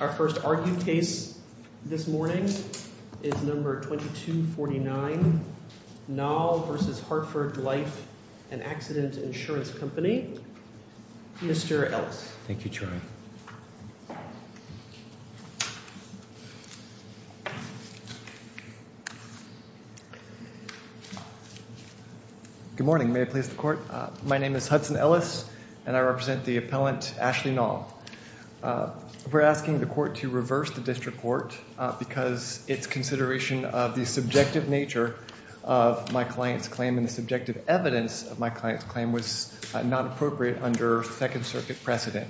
Our first argued case this morning is number 2249, Nall v. Hartford Life and Accident Insurance Company, Mr. Ellis. Thank you, Troy. Good morning. May I please the court? My name is Hudson Ellis, and I represent the appellant Ashley Nall. We're asking the court to reverse the district court because it's consideration of the subjective nature of my client's claim and the subjective evidence of my client's claim was not appropriate under Second Circuit precedent.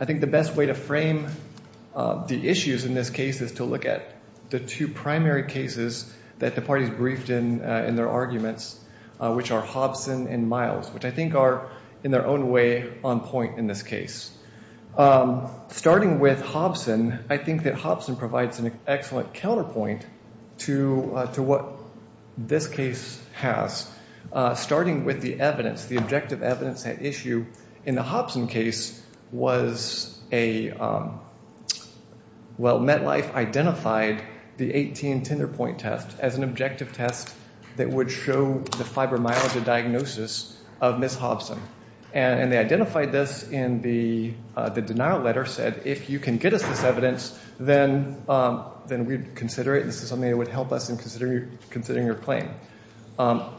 I think the best way to frame the issues in this case is to look at the two primary cases that the parties briefed in in their arguments, which are Hobson and Miles, which I think are in their own way on point in this case. Starting with Hobson, I think that Hobson provides an excellent counterpoint to what this case has. Starting with the evidence, the objective evidence at issue in the Hobson case was a, well, MetLife identified the 18 tender point test as an objective test that would show the fibromyalgia diagnosis of Miss Hobson. And they identified this in the denial letter, said, if you can get us this evidence, then we'd consider it. This is something that would help us in considering her claim.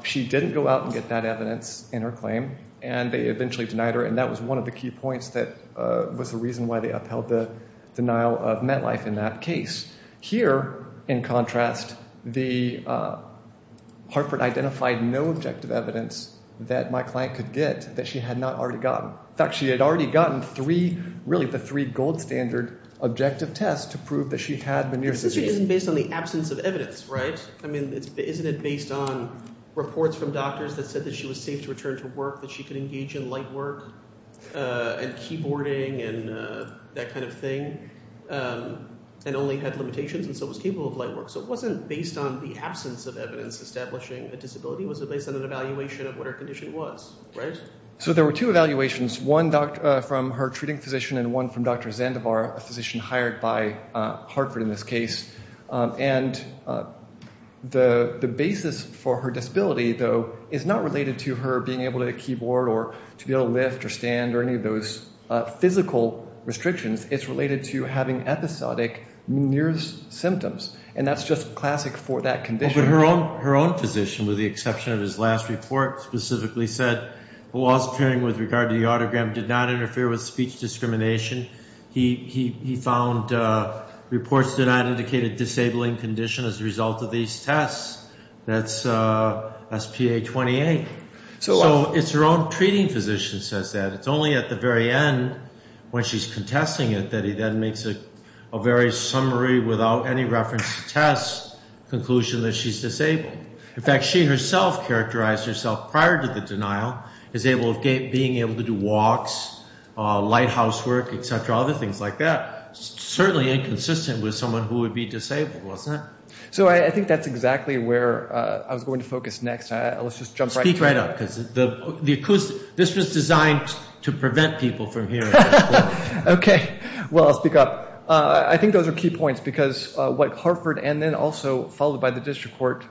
She didn't go out and get that evidence in her claim, and they eventually denied her, and that was one of the key points that was the reason why they upheld the denial of MetLife in that case. Here, in contrast, Hartford identified no objective evidence that my client could get that she had not already gotten. In fact, she had already gotten three, really the three gold standard objective tests to prove that she had been near the disease. This isn't based on the absence of evidence, right? I mean, isn't it based on reports from doctors that said that she was safe to return to work, that she could engage in light work and keyboarding and that kind of thing, and only had limitations and so was capable of light work? So it wasn't based on the absence of evidence establishing a disability. It was based on an evaluation of what her condition was, right? So there were two evaluations, one from her treating physician and one from Dr. Zandivar, a physician hired by Hartford in this case. And the basis for her disability, though, is not related to her being able to keyboard or to be able to lift or stand or any of those physical restrictions. It's related to having episodic near symptoms, and that's just classic for that condition. But her own physician, with the exception of his last report, specifically said the laws appearing with regard to the autogram did not interfere with speech discrimination. He found reports did not indicate a disabling condition as a result of these tests. That's SPA-28. So it's her own treating physician says that. It's only at the very end when she's contesting it that he then makes a very summary without any reference to tests conclusion that she's disabled. In fact, she herself characterized herself prior to the denial as being able to do walks, lighthouse work, et cetera, other things like that. Certainly inconsistent with someone who would be disabled, wasn't it? So I think that's exactly where I was going to focus next. Let's just jump right in. Speak right up because this was designed to prevent people from hearing. Okay. Well, I'll speak up. I think those are key points because what Hartford and then also followed by the district court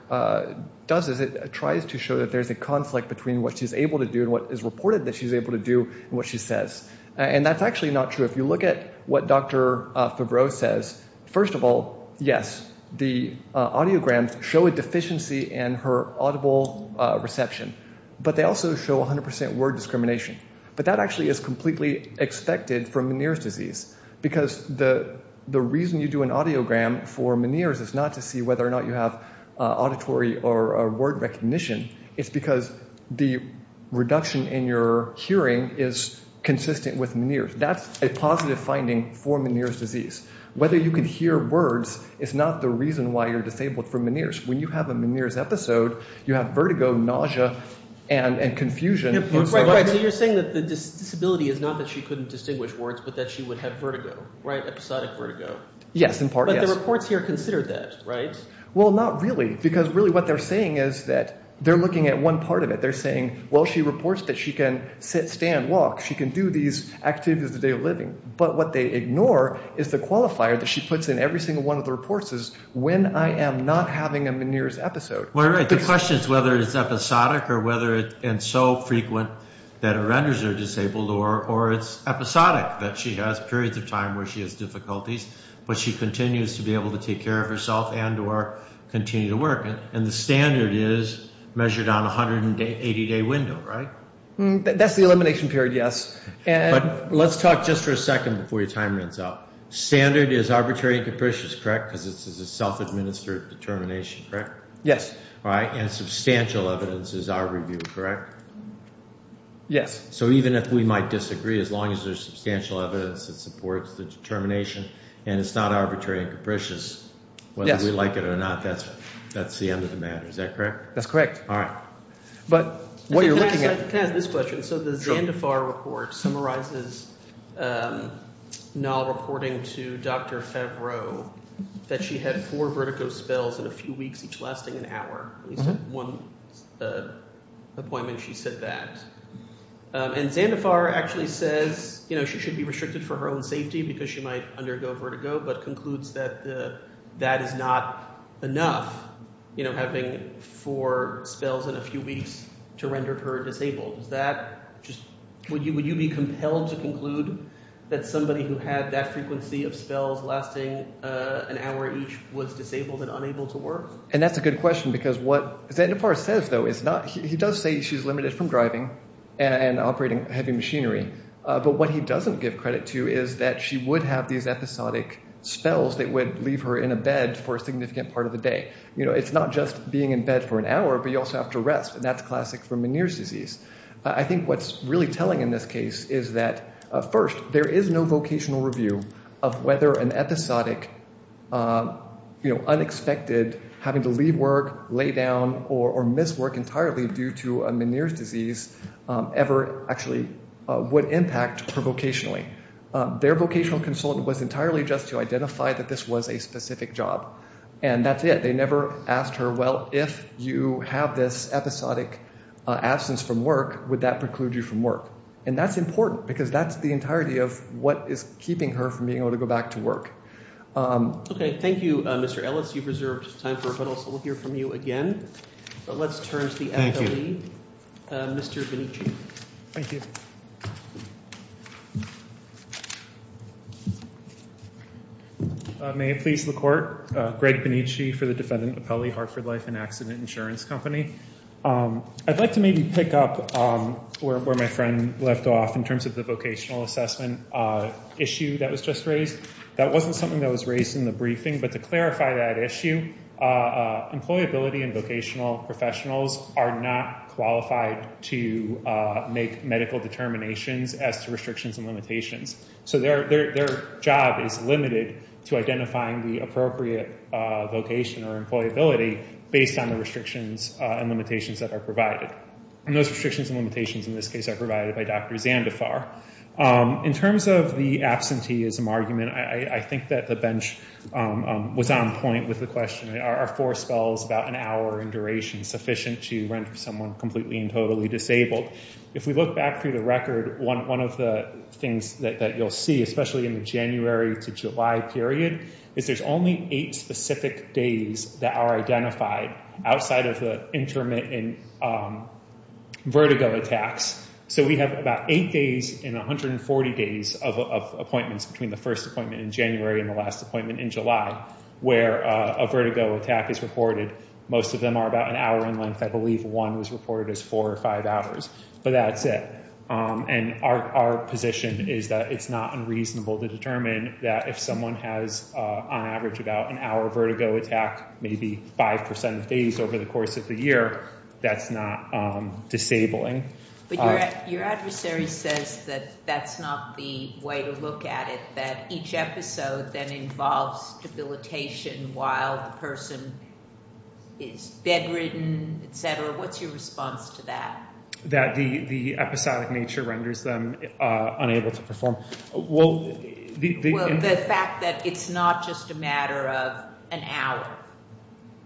does is it tries to show that there's a conflict between what she's able to do and what is reported that she's able to do and what she says. And that's actually not true. If you look at what Dr. Favreau says, first of all, yes, the audiograms show a deficiency in her audible reception, but they also show 100% word discrimination. But that actually is completely expected from Meniere's disease because the reason you do an audiogram for Meniere's is not to see whether or not you have auditory or word recognition. It's because the reduction in your hearing is consistent with Meniere's. That's a positive finding for Meniere's disease. Whether you can hear words is not the reason why you're disabled from Meniere's. When you have a Meniere's episode, you have vertigo, nausea, and confusion. Right, right. So you're saying that the disability is not that she couldn't distinguish words but that she would have vertigo, right, episodic vertigo. Yes, in part, yes. But the reports here consider that, right? Well, not really because really what they're saying is that they're looking at one part of it. They're saying, well, she reports that she can sit, stand, walk. She can do these activities of the day of living. But what they ignore is the qualifier that she puts in every single one of the reports is when I am not having a Meniere's episode. Well, you're right. The question is whether it's episodic or whether it's so frequent that it renders her disabled or it's episodic, that she has periods of time where she has difficulties but she continues to be able to take care of herself and or continue to work. And the standard is measured on a 180-day window, right? That's the elimination period, yes. But let's talk just for a second before your time runs out. Standard is arbitrary and capricious, correct, because it's a self-administered determination, correct? Yes. All right, and substantial evidence is our review, correct? Yes. So even if we might disagree, as long as there's substantial evidence that supports the determination and it's not arbitrary and capricious, whether we like it or not, that's the end of the matter. Is that correct? That's correct. All right. But what you're looking at— Can I ask this question? Sure. So the Zandafar report summarizes Nal reporting to Dr. Favreau that she had four vertigo spells in a few weeks, each lasting an hour. At least at one appointment she said that. And Zandafar actually says she should be restricted for her own safety because she might undergo vertigo, but concludes that that is not enough, having four spells in a few weeks to render her disabled. Is that just—would you be compelled to conclude that somebody who had that frequency of spells lasting an hour each was disabled and unable to work? And that's a good question because what Zandafar says, though, is not—he does say she's limited from driving and operating heavy machinery. But what he doesn't give credit to is that she would have these episodic spells that would leave her in a bed for a significant part of the day. It's not just being in bed for an hour, but you also have to rest, and that's classic for Meniere's disease. I think what's really telling in this case is that, first, there is no vocational review of whether an episodic, unexpected having to leave work, lay down, or miss work entirely due to a Meniere's disease ever actually would impact her vocationally. Their vocational consultant was entirely just to identify that this was a specific job, and that's it. They never asked her, well, if you have this episodic absence from work, would that preclude you from work? And that's important because that's the entirety of what is keeping her from being able to go back to work. Okay. Thank you, Mr. Ellis. You've reserved time for rebuttal, so we'll hear from you again. But let's turn to the athlete, Mr. Benici. Thank you. May it please the court. Greg Benici for the Defendant Appellee, Hartford Life and Accident Insurance Company. I'd like to maybe pick up where my friend left off in terms of the vocational assessment issue that was just raised. That wasn't something that was raised in the briefing, but to clarify that issue, employability and vocational professionals are not qualified to make medical determinations as to restrictions and limitations. So their job is limited to identifying the appropriate vocation or employability based on the restrictions and limitations that are provided. And those restrictions and limitations in this case are provided by Dr. Zandifar. In terms of the absenteeism argument, I think that the bench was on point with the question, are four spells about an hour in duration sufficient to render someone completely and totally disabled? If we look back through the record, one of the things that you'll see, especially in the January to July period, is there's only eight specific days that are identified outside of the intermittent vertigo attacks. So we have about eight days in 140 days of appointments between the first appointment in January and the last appointment in July where a vertigo attack is reported. Most of them are about an hour in length. I believe one was reported as four or five hours. But that's it. And our position is that it's not unreasonable to determine that if someone has on average about an hour vertigo attack, maybe 5% of days over the course of the year, that's not disabling. But your adversary says that that's not the way to look at it, that each episode then involves debilitation while the person is bedridden, et cetera. What's your response to that? That the episodic nature renders them unable to perform. Well, the fact that it's not just a matter of an hour.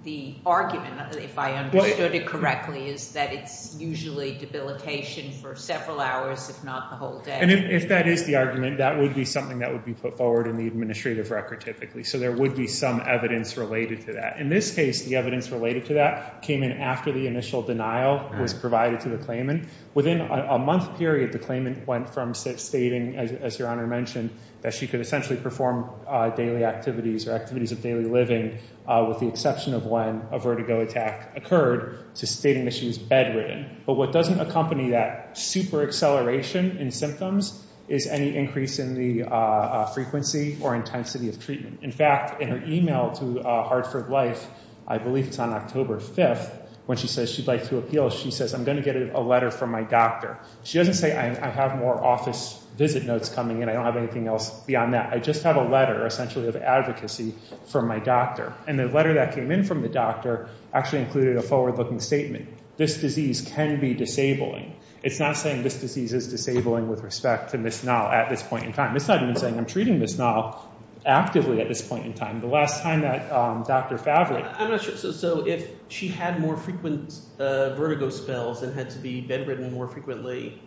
The argument, if I understood it correctly, is that it's usually debilitation for several hours, if not the whole day. And if that is the argument, that would be something that would be put forward in the administrative record typically. So there would be some evidence related to that. In this case, the evidence related to that came in after the initial denial was provided to the claimant. Within a month period, the claimant went from stating, as Your Honor mentioned, that she could essentially perform daily activities or activities of daily living, with the exception of when a vertigo attack occurred, to stating that she was bedridden. But what doesn't accompany that super-acceleration in symptoms is any increase in the frequency or intensity of treatment. In fact, in her email to Hartford Life, I believe it's on October 5th, when she says she'd like to appeal, she says, I'm going to get a letter from my doctor. She doesn't say, I have more office visit notes coming in. I don't have anything else beyond that. I just have a letter essentially of advocacy from my doctor. And the letter that came in from the doctor actually included a forward-looking statement. This disease can be disabling. It's not saying this disease is disabling with respect to Ms. Nall at this point in time. It's not even saying I'm treating Ms. Nall actively at this point in time. The last time that Dr. Favre— I'm not sure. So if she had more frequent vertigo spells and had to be bedridden more frequently,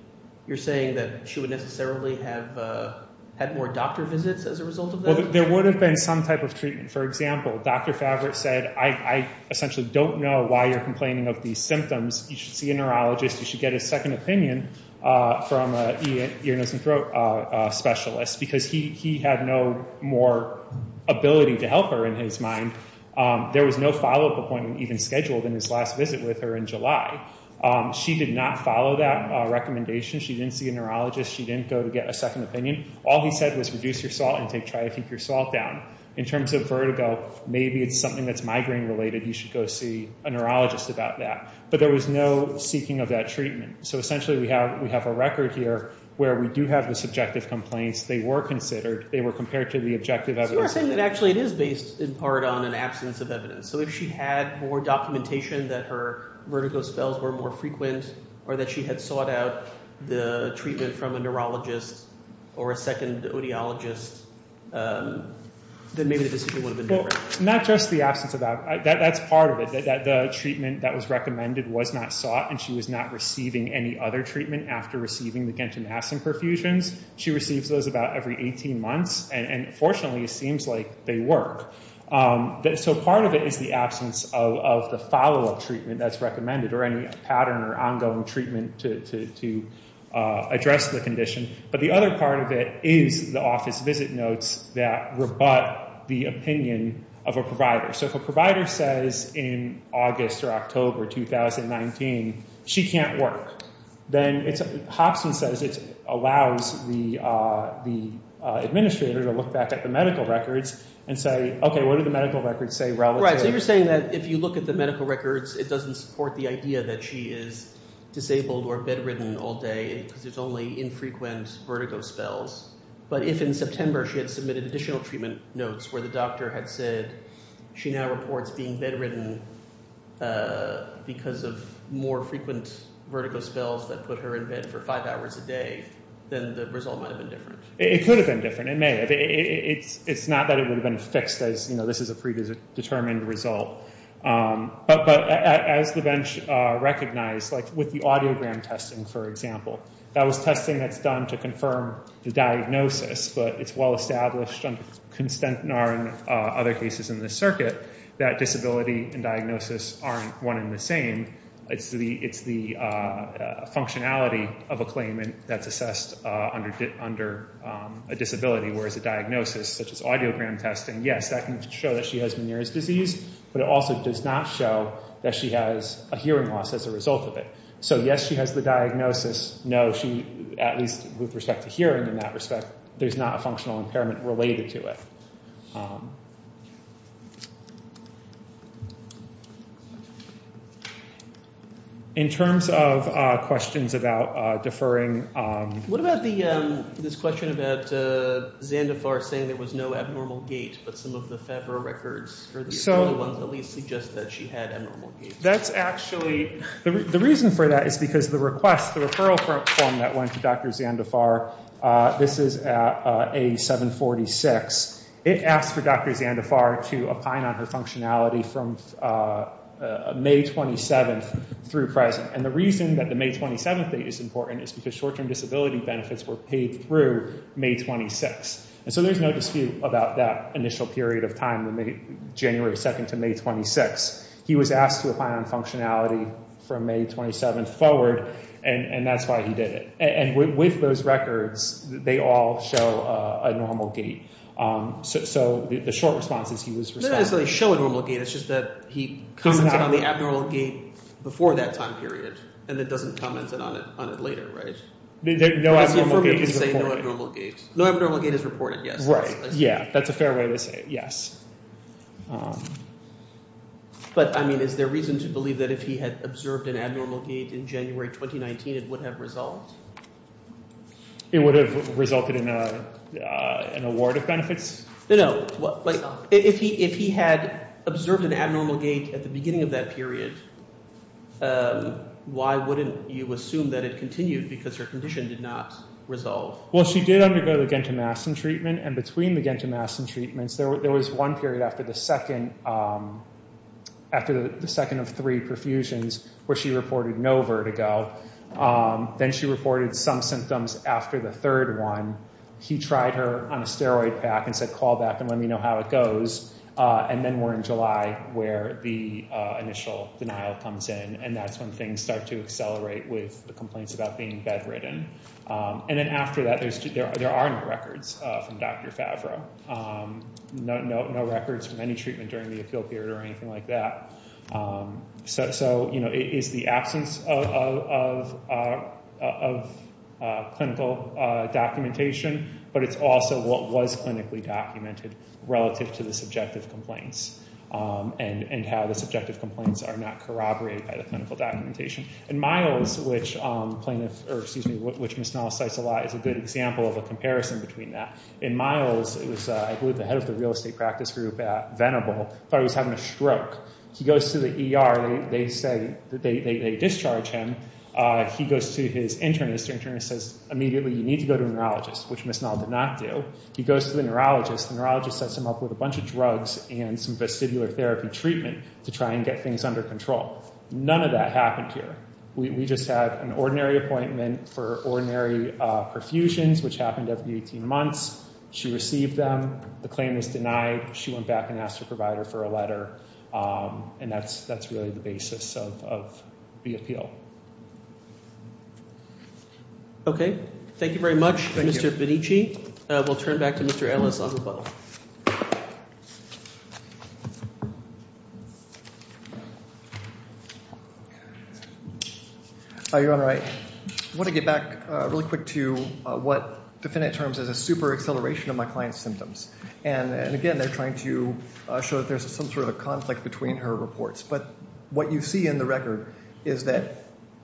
you're saying that she would necessarily have had more doctor visits as a result of that? Well, there would have been some type of treatment. For example, Dr. Favre said, I essentially don't know why you're complaining of these symptoms. You should see a neurologist. You should get a second opinion from an ear, nose, and throat specialist because he had no more ability to help her in his mind. There was no follow-up appointment even scheduled in his last visit with her in July. She did not follow that recommendation. She didn't see a neurologist. She didn't go to get a second opinion. All he said was reduce your salt intake, try to keep your salt down. In terms of vertigo, maybe it's something that's migraine-related. You should go see a neurologist about that. But there was no seeking of that treatment. So essentially we have a record here where we do have the subjective complaints. They were considered. They were compared to the objective evidence. You are saying that actually it is based in part on an absence of evidence. So if she had more documentation that her vertigo spells were more frequent or that she had sought out the treatment from a neurologist or a second audiologist, then maybe the decision would have been different. Not just the absence of evidence. That's part of it. The treatment that was recommended was not sought, and she was not receiving any other treatment after receiving the gentanasin perfusions. She receives those about every 18 months. And fortunately it seems like they work. So part of it is the absence of the follow-up treatment that's recommended or any pattern or ongoing treatment to address the condition. But the other part of it is the office visit notes that rebut the opinion of a provider. So if a provider says in August or October 2019 she can't work, then Hobson says it allows the administrator to look back at the medical records and say, okay, what do the medical records say relatively? Right. So you're saying that if you look at the medical records, it doesn't support the idea that she is disabled or bedridden all day because there's only infrequent vertigo spells. But if in September she had submitted additional treatment notes where the doctor had said she now reports being bedridden because of more frequent vertigo spells that put her in bed for five hours a day, then the result might have been different. It could have been different. It may have. It's not that it would have been fixed as this is a predetermined result. But as the bench recognized, like with the audiogram testing, for example, that was testing that's done to confirm the diagnosis. But it's well established under Constantinar and other cases in this circuit that disability and diagnosis aren't one and the same. It's the functionality of a claimant that's assessed under a disability, whereas a diagnosis such as audiogram testing, yes, that can show that she has Meniere's disease. But it also does not show that she has a hearing loss as a result of it. So yes, she has the diagnosis. No, at least with respect to hearing in that respect, there's not a functional impairment related to it. In terms of questions about deferring… That's actually… The reason for that is because the request, the referral form that went to Dr. Zandafar, this is at A746. It asked for Dr. Zandafar to opine on her functionality from May 27th through present. And the reason that the May 27th date is important is because short-term disability benefits were paid through May 26th. And so there's no dispute about that initial period of time, January 2nd to May 26th. He was asked to opine on functionality from May 27th forward, and that's why he did it. And with those records, they all show abnormal gait. So the short response is he was… It doesn't necessarily show abnormal gait. It's just that he commented on the abnormal gait before that time period and then doesn't comment on it later, right? No abnormal gait is reported. Right, yeah. That's a fair way to say it, yes. But, I mean, is there reason to believe that if he had observed an abnormal gait in January 2019, it would have resolved? It would have resulted in an award of benefits? No, no. If he had observed an abnormal gait at the beginning of that period, why wouldn't you assume that it continued because her condition did not resolve? Well, she did undergo the Gentamastin treatment. And between the Gentamastin treatments, there was one period after the second of three perfusions where she reported no vertigo. Then she reported some symptoms after the third one. He tried her on a steroid pack and said, call back and let me know how it goes. And then we're in July where the initial denial comes in, and that's when things start to accelerate with the complaints about being bedridden. And then after that, there are no records from Dr. Favreau, no records from any treatment during the appeal period or anything like that. So, you know, it's the absence of clinical documentation, but it's also what was clinically documented relative to the subjective complaints and how the subjective complaints are not corroborated by the clinical documentation. And Miles, which Ms. Nall cites a lot, is a good example of a comparison between that. And Miles was, I believe, the head of the real estate practice group at Venable. He thought he was having a stroke. He goes to the ER. They discharge him. He goes to his internist. The internist says, immediately, you need to go to a neurologist, which Ms. Nall did not do. He goes to the neurologist. The neurologist sets him up with a bunch of drugs and some vestibular therapy treatment to try and get things under control. None of that happened here. We just had an ordinary appointment for ordinary perfusions, which happened every 18 months. She received them. The claim was denied. She went back and asked her provider for a letter. And that's really the basis of the appeal. Okay. Thank you very much, Mr. Vinici. We'll turn back to Mr. Ellis on the phone. Your Honor, I want to get back really quick to what defendant terms as a super acceleration of my client's symptoms. And, again, they're trying to show that there's some sort of conflict between her reports. But what you see in the record is that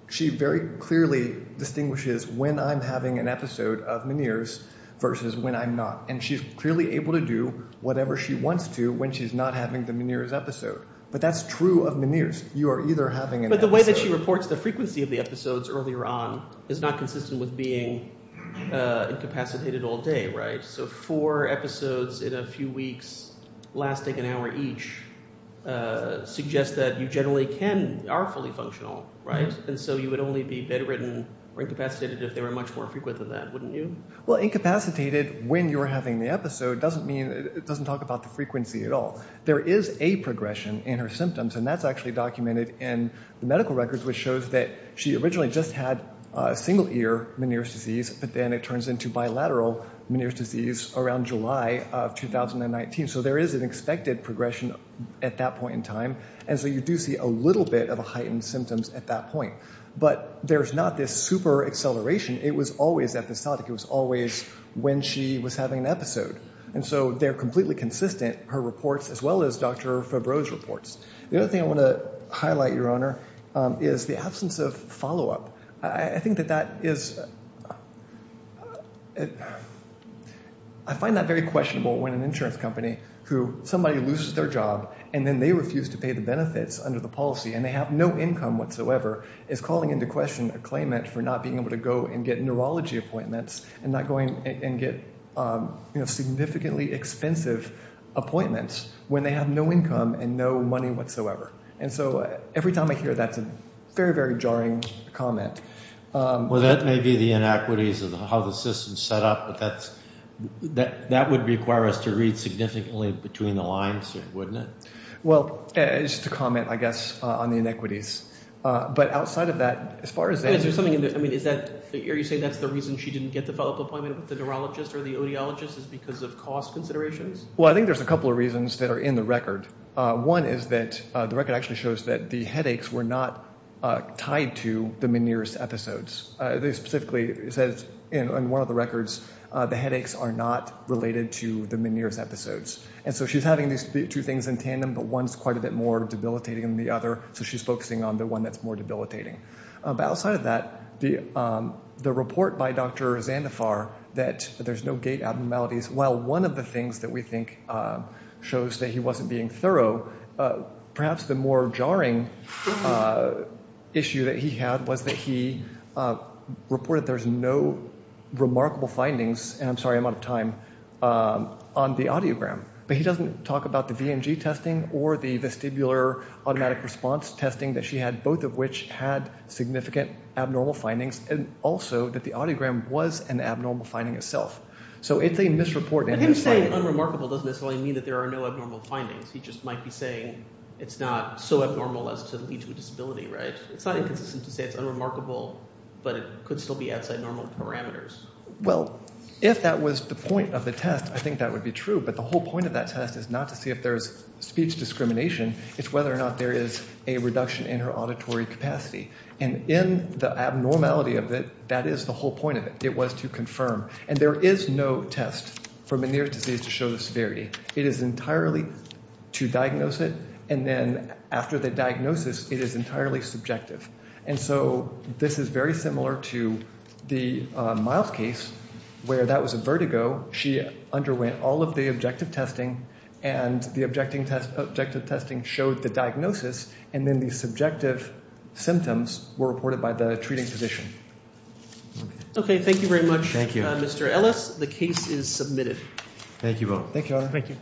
she very clearly distinguishes when I'm having an episode of Meniere's versus when I'm not. And she's clearly able to do whatever she wants to when she's not having the Meniere's episode. But that's true of Meniere's. You are either having an episode. But the way that she reports the frequency of the episodes earlier on is not consistent with being incapacitated all day, right? So four episodes in a few weeks lasting an hour each suggests that you generally are fully functional, right? And so you would only be bedridden or incapacitated if they were much more frequent than that, wouldn't you? Well, incapacitated when you're having the episode doesn't mean it doesn't talk about the frequency at all. There is a progression in her symptoms, and that's actually documented in the medical records, which shows that she originally just had single-ear Meniere's disease, but then it turns into bilateral Meniere's disease around July of 2019. So there is an expected progression at that point in time. And so you do see a little bit of heightened symptoms at that point. But there's not this super acceleration. It was always episodic. It was always when she was having an episode. And so they're completely consistent, her reports, as well as Dr. Fabreau's reports. The other thing I want to highlight, Your Honor, is the absence of follow-up. I think that that is – I find that very questionable when an insurance company who somebody loses their job and then they refuse to pay the benefits under the policy and they have no income whatsoever is calling into question a claimant for not being able to go and get neurology appointments and not going and get significantly expensive appointments when they have no income and no money whatsoever. And so every time I hear that, it's a very, very jarring comment. Well, that may be the inequities of how the system is set up, but that would require us to read significantly between the lines, wouldn't it? Well, it's just a comment, I guess, on the inequities. But outside of that, as far as that – I mean, is that – are you saying that's the reason she didn't get the follow-up appointment with the neurologist or the audiologist is because of cost considerations? Well, I think there's a couple of reasons that are in the record. One is that the record actually shows that the headaches were not tied to the Meniere's episodes. They specifically said in one of the records the headaches are not related to the Meniere's episodes. And so she's having these two things in tandem, but one's quite a bit more debilitating than the other, so she's focusing on the one that's more debilitating. But outside of that, the report by Dr. Zandafar that there's no gait abnormalities, while one of the things that we think shows that he wasn't being thorough, perhaps the more jarring issue that he had was that he reported there's no remarkable findings – and I'm sorry, I'm out of time – on the audiogram. But he doesn't talk about the VNG testing or the vestibular automatic response testing that she had, both of which had significant abnormal findings, and also that the audiogram was an abnormal finding itself. So it's a misreport. But him saying unremarkable doesn't necessarily mean that there are no abnormal findings. He just might be saying it's not so abnormal as to lead to a disability, right? It's not inconsistent to say it's unremarkable, but it could still be outside normal parameters. Well, if that was the point of the test, I think that would be true. But the whole point of that test is not to see if there's speech discrimination. It's whether or not there is a reduction in her auditory capacity. And in the abnormality of it, that is the whole point of it. It was to confirm. And there is no test for Meniere's disease to show the severity. It is entirely to diagnose it, and then after the diagnosis, it is entirely subjective. And so this is very similar to the Myles case, where that was a vertigo. She underwent all of the objective testing, and the objective testing showed the diagnosis, and then the subjective symptoms were reported by the treating physician. Okay, thank you very much, Mr. Ellis. The case is submitted. Thank you all.